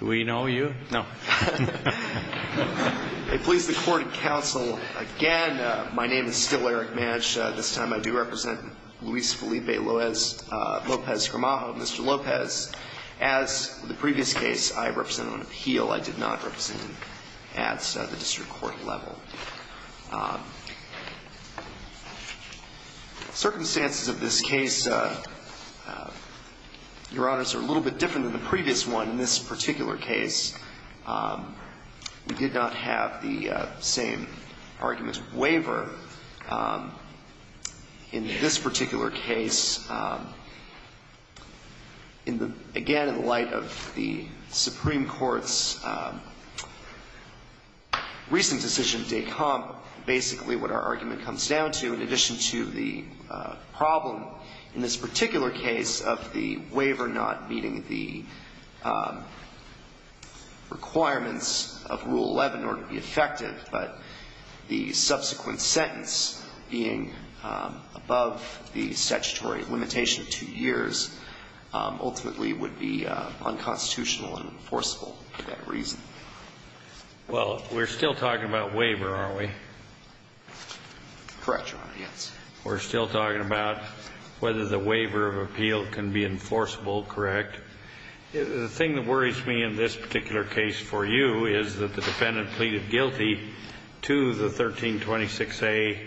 Do we know you? No. I please the court and counsel again. My name is still Eric Madge. This time I do represent Luis Felipe Lopez-Gramajo, Mr. Lopez. As in the previous case, I represented on appeal. I did not represent him at the district court level. Circumstances of this case, Your Honors, are a little bit different than the previous one. In this particular case, we did not have the same argument waiver. In this particular case, in the, again, in light of the Supreme Court's recent decision, DECOMP, basically what our argument comes down to, in addition to the problem in this particular case of the waiver not meeting the requirements of Rule 11 in order to be effective, but the subsequent setbacks of the waiver. The sentence being above the statutory limitation of two years ultimately would be unconstitutional and enforceable for that reason. Well, we're still talking about waiver, aren't we? Correct, Your Honor, yes. We're still talking about whether the waiver of appeal can be enforceable, correct? The thing that worries me in this particular case for you is that the defendant pleaded guilty to the 1326A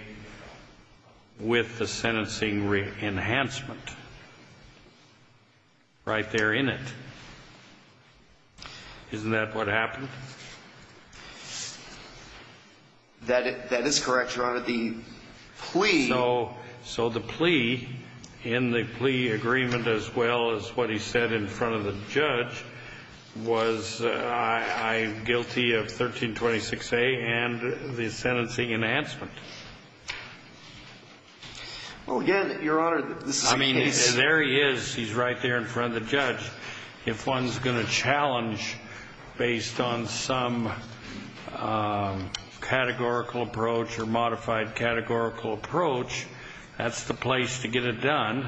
with the sentencing enhancement right there in it. Isn't that what happened? That is correct, Your Honor. The plea. So the plea, in the plea agreement as well as what he said in front of the judge, was I guilty of 1326A and the sentencing enhancement. Well, again, Your Honor, this is a case. There he is. He's right there in front of the judge. If one's going to challenge based on some categorical approach or modified categorical approach, that's the place to get it done.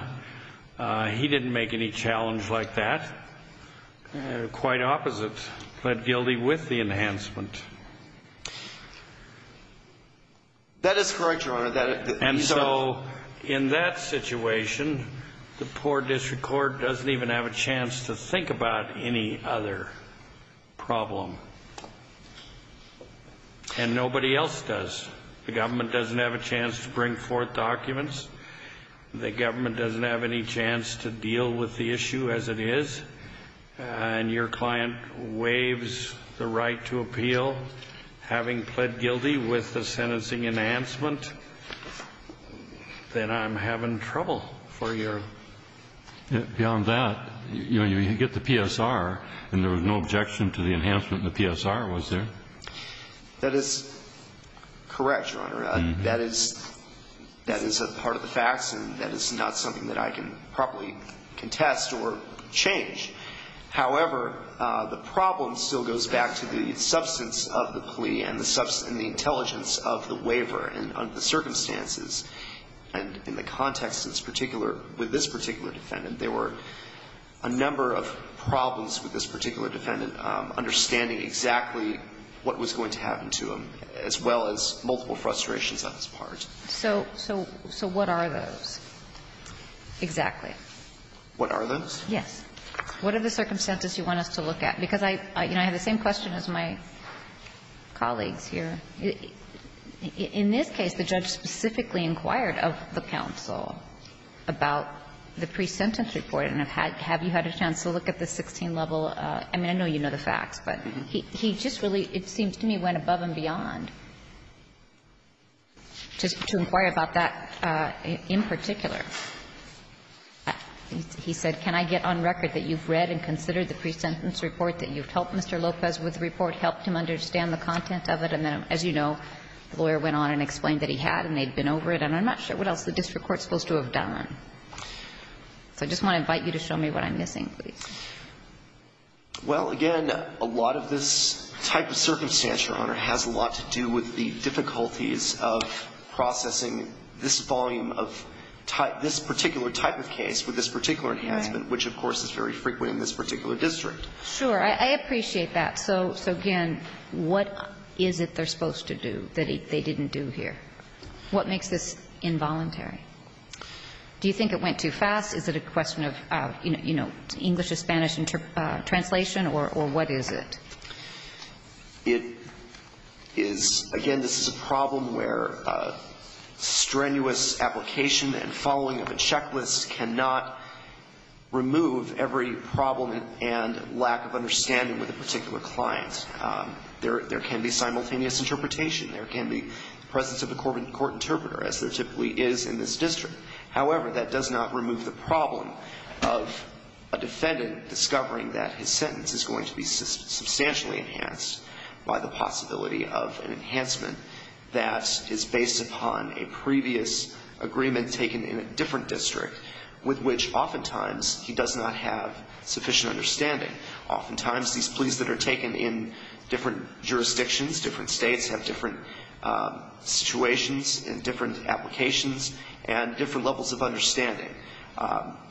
He didn't make any challenge like that. Quite opposite. That is correct, Your Honor. And so in that situation, the poor district court doesn't even have a chance to think about any other problem. And nobody else does. The government doesn't have a chance to bring forth documents. The government doesn't have any chance to deal with the issue as it is. And your client waives the right to appeal, having pled guilty with the sentencing enhancement. Then I'm having trouble for you. Beyond that, you get the PSR, and there was no objection to the enhancement in the PSR, was there? That is correct, Your Honor. That is a part of the facts, and that is not something that I can probably contest or change. However, the problem still goes back to the substance of the plea and the intelligence of the waiver and the circumstances. And in the context that's particular with this particular defendant, there were a number of problems with this particular defendant, understanding exactly what was going to happen to him, as well as multiple frustrations on his part. So what are those exactly? What are those? Yes. What are the circumstances you want us to look at? Because I have the same question as my colleagues here. In this case, the judge specifically inquired of the counsel about the pre-sentence report, and have you had a chance to look at the 16-level? I mean, I know you know the facts, but he just really, it seems to me, went above and beyond to inquire about that in particular. He said, can I get on record that you've read and considered the pre-sentence report, that you've helped Mr. Lopez with the report, helped him understand the content of it, and then, as you know, the lawyer went on and explained that he had and they'd been over it, and I'm not sure what else the district court is supposed to have done. So I just want to invite you to show me what I'm missing, please. Well, again, a lot of this type of circumstance, Your Honor, has a lot to do with the difficulties of processing this volume of this particular type of case with this particular enhancement, which, of course, is very frequent in this particular district. Sure. I appreciate that. So, again, what is it they're supposed to do that they didn't do here? What makes this involuntary? Do you think it went too fast? Is it a question of, you know, English-to-Spanish translation, or what is it? It is, again, this is a problem where strenuous application and following of a checklist cannot remove every problem and lack of understanding with a particular client. There can be simultaneous interpretation. There can be presence of a court interpreter, as there typically is in this district. However, that does not remove the problem of a defendant discovering that his sentence is going to be substantially enhanced by the possibility of an enhancement that is based upon a previous agreement taken in a different district, with which oftentimes he does not have sufficient understanding. Oftentimes, these pleas that are taken in different jurisdictions, different States, have different situations and different applications and different levels of understanding.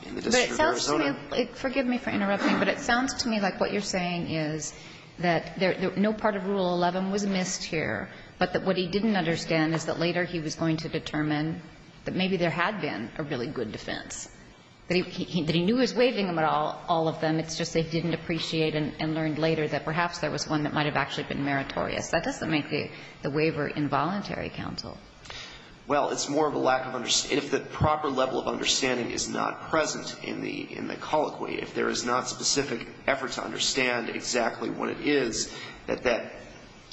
In the District of Arizona ---- But it sounds to me, forgive me for interrupting, but it sounds to me like what you're saying is that no part of Rule 11 was missed here, but that what he didn't understand is that later he was going to determine that maybe there had been a really good defense, that he knew he was waiving all of them. It's just they didn't appreciate and learned later that perhaps there was one that was missing. That doesn't make the waiver involuntary, counsel. Well, it's more of a lack of ---- if the proper level of understanding is not present in the colloquy, if there is not specific effort to understand exactly what it is that that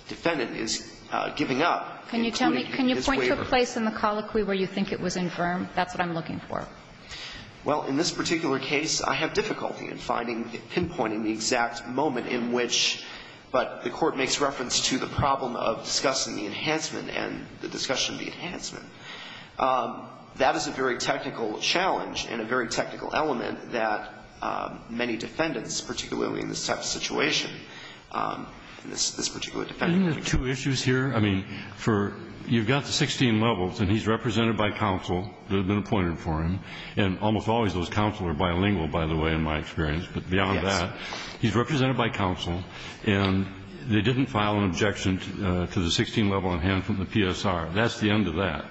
defendant is giving up, including his waiver. Can you tell me, can you point to a place in the colloquy where you think it was infirm? That's what I'm looking for. Well, in this particular case, I have difficulty in finding, pinpointing the exact moment in which, but the Court makes reference to the problem of discussing the enhancement and the discussion of the enhancement. That is a very technical challenge and a very technical element that many defendants, particularly in this type of situation, in this particular defendant. Isn't there two issues here? I mean, for, you've got the 16 levels, and he's represented by counsel that have been appointed for him, and almost always those counsel are bilingual, by the way, in my experience. Yes. He's represented by counsel, and they didn't file an objection to the 16-level enhancement in the PSR. That's the end of that.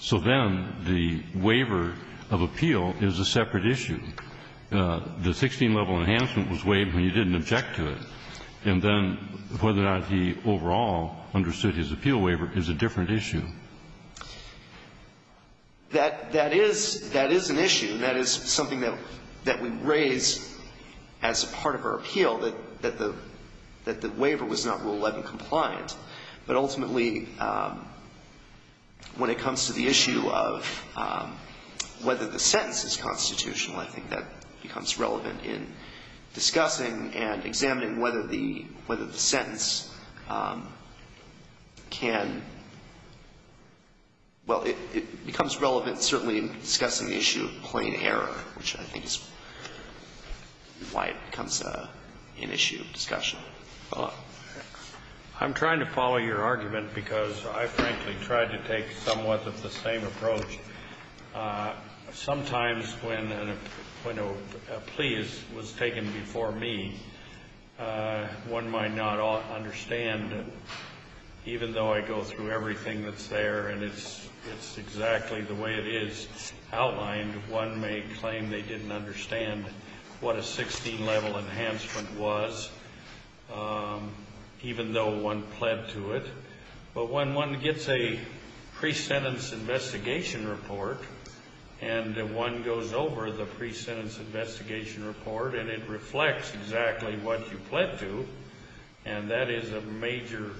So then the waiver of appeal is a separate issue. The 16-level enhancement was waived when you didn't object to it, and then whether or not he overall understood his appeal waiver is a different issue. That is an issue. That is something that we raise as part of our appeal, that the waiver was not Rule 11 compliant. But ultimately, when it comes to the issue of whether the sentence is constitutional, I think that becomes relevant in discussing and examining whether the sentence can, well, it becomes relevant, certainly, in discussing the issue of plain error, which I think is why it becomes an issue of discussion. I'm trying to follow your argument because I, frankly, tried to take somewhat of the same approach. Sometimes when a plea was taken before me, one might not understand it. Even though I go through everything that's there and it's exactly the way it is outlined, one may claim they didn't understand what a 16-level enhancement was, even though one pled to it. But when one gets a pre-sentence investigation report and one goes over the pre-sentence investigation report and it reflects exactly what you pled to, and that is a major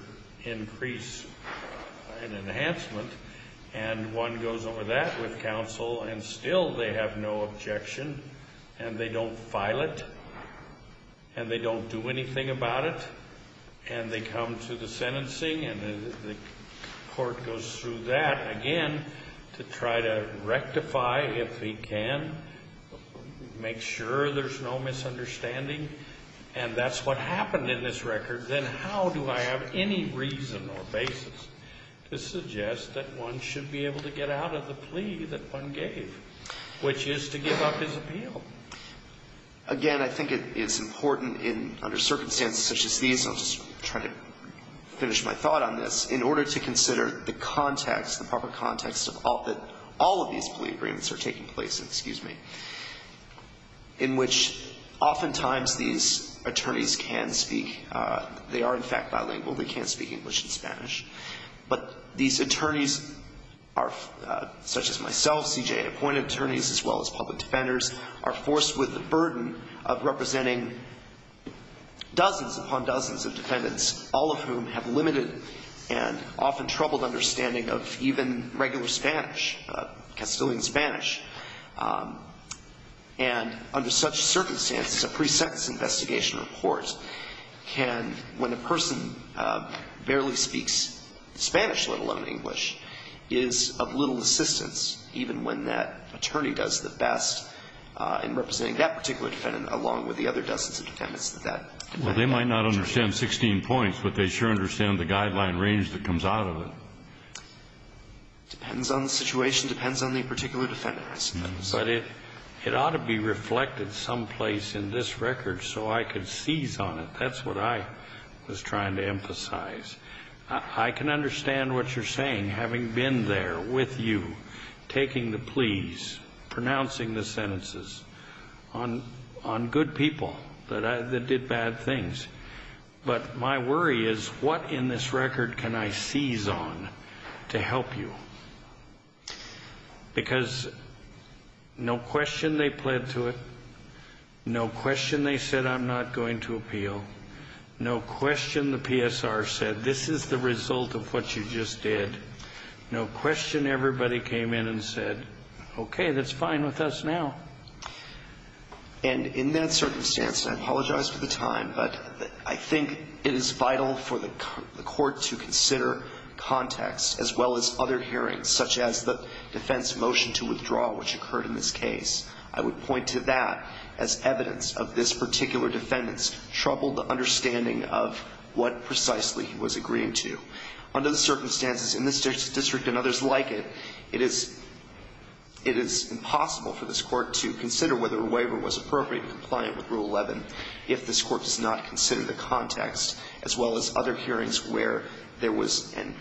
increase in enhancement, and one goes over that with counsel, and still they have no objection, and they don't file it, and they don't do anything about it, and they come to the sentencing, and the court goes through that again to try to rectify if he can, make sure there's no misunderstanding, and that's what happened in this record, then how do I have any reason or basis to suggest that one should be able to get out of the plea that one gave, which is to give up his appeal? Again, I think it's important under circumstances such as these, and I'll just try to finish my thought on this, in order to consider the context, the proper context that all of these plea agreements are taking place in, excuse me, in which oftentimes these attorneys can speak, they are in fact bilingual, they can speak English and Spanish, but these attorneys are, such as myself, CJA appointed attorneys, as well as public defenders, are forced with the burden of representing dozens upon dozens of defendants, all of whom have limited and often troubled understanding of even regular Spanish, Castilian Spanish, and under such circumstances, a pre-sentence investigation report can, when a person barely speaks Spanish, let alone English, is of little assistance, even when that attorney does the best in representing that particular defendant, along with the other dozens of defendants that that attorney may not understand 16 points, but they sure understand the guideline range that comes out of it. Depends on the situation. Depends on the particular defendants. But it ought to be reflected someplace in this record so I could seize on it. That's what I was trying to emphasize. I can understand what you're saying, having been there with you, taking the pleas, pronouncing the sentences on good people that did bad things. But my worry is, what in this record can I seize on to help you? Because no question they pled to it. No question they said, I'm not going to appeal. No question the PSR said, this is the result of what you just did. No question everybody came in and said, okay, that's fine with us now. And in that circumstance, and I apologize for the time, but I think it is vital for the court to consider context, as well as other hearings, such as the defense motion to withdraw, which occurred in this case. I would point to that as evidence of this particular defendant's troubled understanding of what precisely he was agreeing to. Under the circumstances in this district and others like it, it is impossible for this court to consider whether a waiver was appropriate and compliant with Rule 11 if this court does not consider the context, as well as other hearings where there was and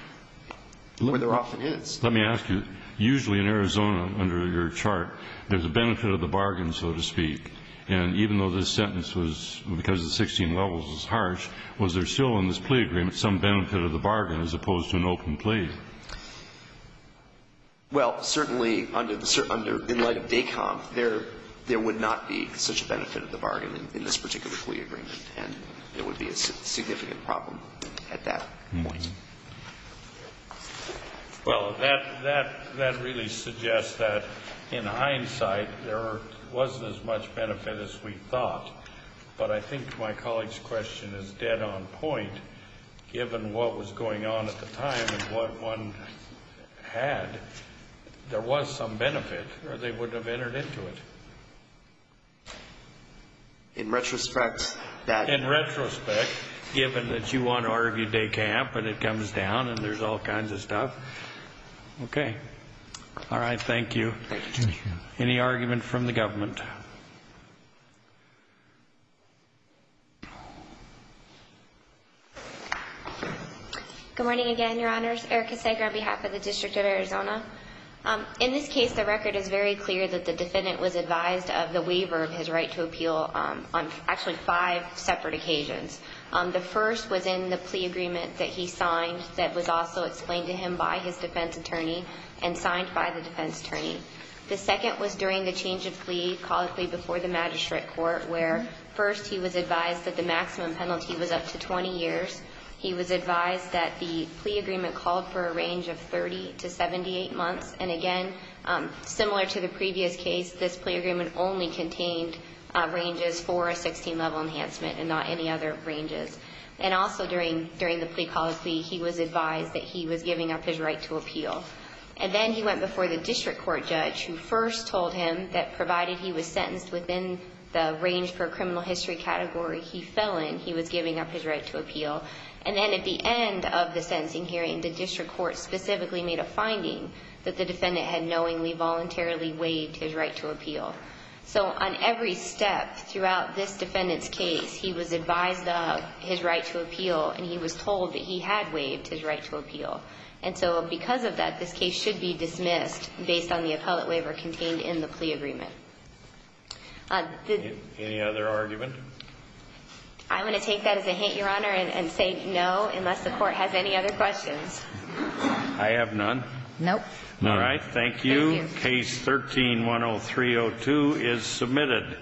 where there often is. Let me ask you. Usually in Arizona, under your chart, there's a benefit of the bargain, so to speak. And even though this sentence was, because the 16 levels is harsh, was there still in this plea agreement some benefit of the bargain as opposed to an open plea? Well, certainly, under the certain, in light of DECOMP, there would not be such a benefit of the bargain in this particular plea agreement. And it would be a significant problem at that point. Well, that really suggests that in hindsight, there wasn't as much benefit as we thought. But I think my colleague's question is dead on point. Given what was going on at the time and what one had, there was some benefit, or they wouldn't have entered into it. In retrospect, that ---- In retrospect, given that you want to argue DECOMP and it comes down and there's all kinds of stuff. All right. Thank you. Any argument from the government? Good morning again, Your Honors. Erica Sager on behalf of the District of Arizona. In this case, the record is very clear that the defendant was advised of the waiver of his right to appeal on actually five separate occasions. The first was in the plea agreement that he signed that was also explained to him by his defense attorney and signed by the defense attorney. The second was during the change of plea, called a plea before the magistrate court, where first he was advised that the maximum penalty was up to 20 years. He was advised that the plea agreement called for a range of 30 to 78 months. And again, similar to the previous case, this plea agreement only contained ranges for a 16-level enhancement and not any other ranges. And also during the plea, called a plea, he was advised that he was giving up his right to appeal. And then he went before the district court judge who first told him that provided he was sentenced within the range per criminal history category he fell in, he was giving up his right to appeal. And then at the end of the sentencing hearing, the district court specifically made a finding that the defendant had knowingly, voluntarily waived his right to appeal. So on every step throughout this defendant's case, he was advised of his right to appeal And so because of that, this case should be dismissed based on the appellate waiver contained in the plea agreement. Any other argument? I'm going to take that as a hint, Your Honor, and say no, unless the court has any other questions. I have none. Nope. All right. Thank you. Case 13-10302 is submitted.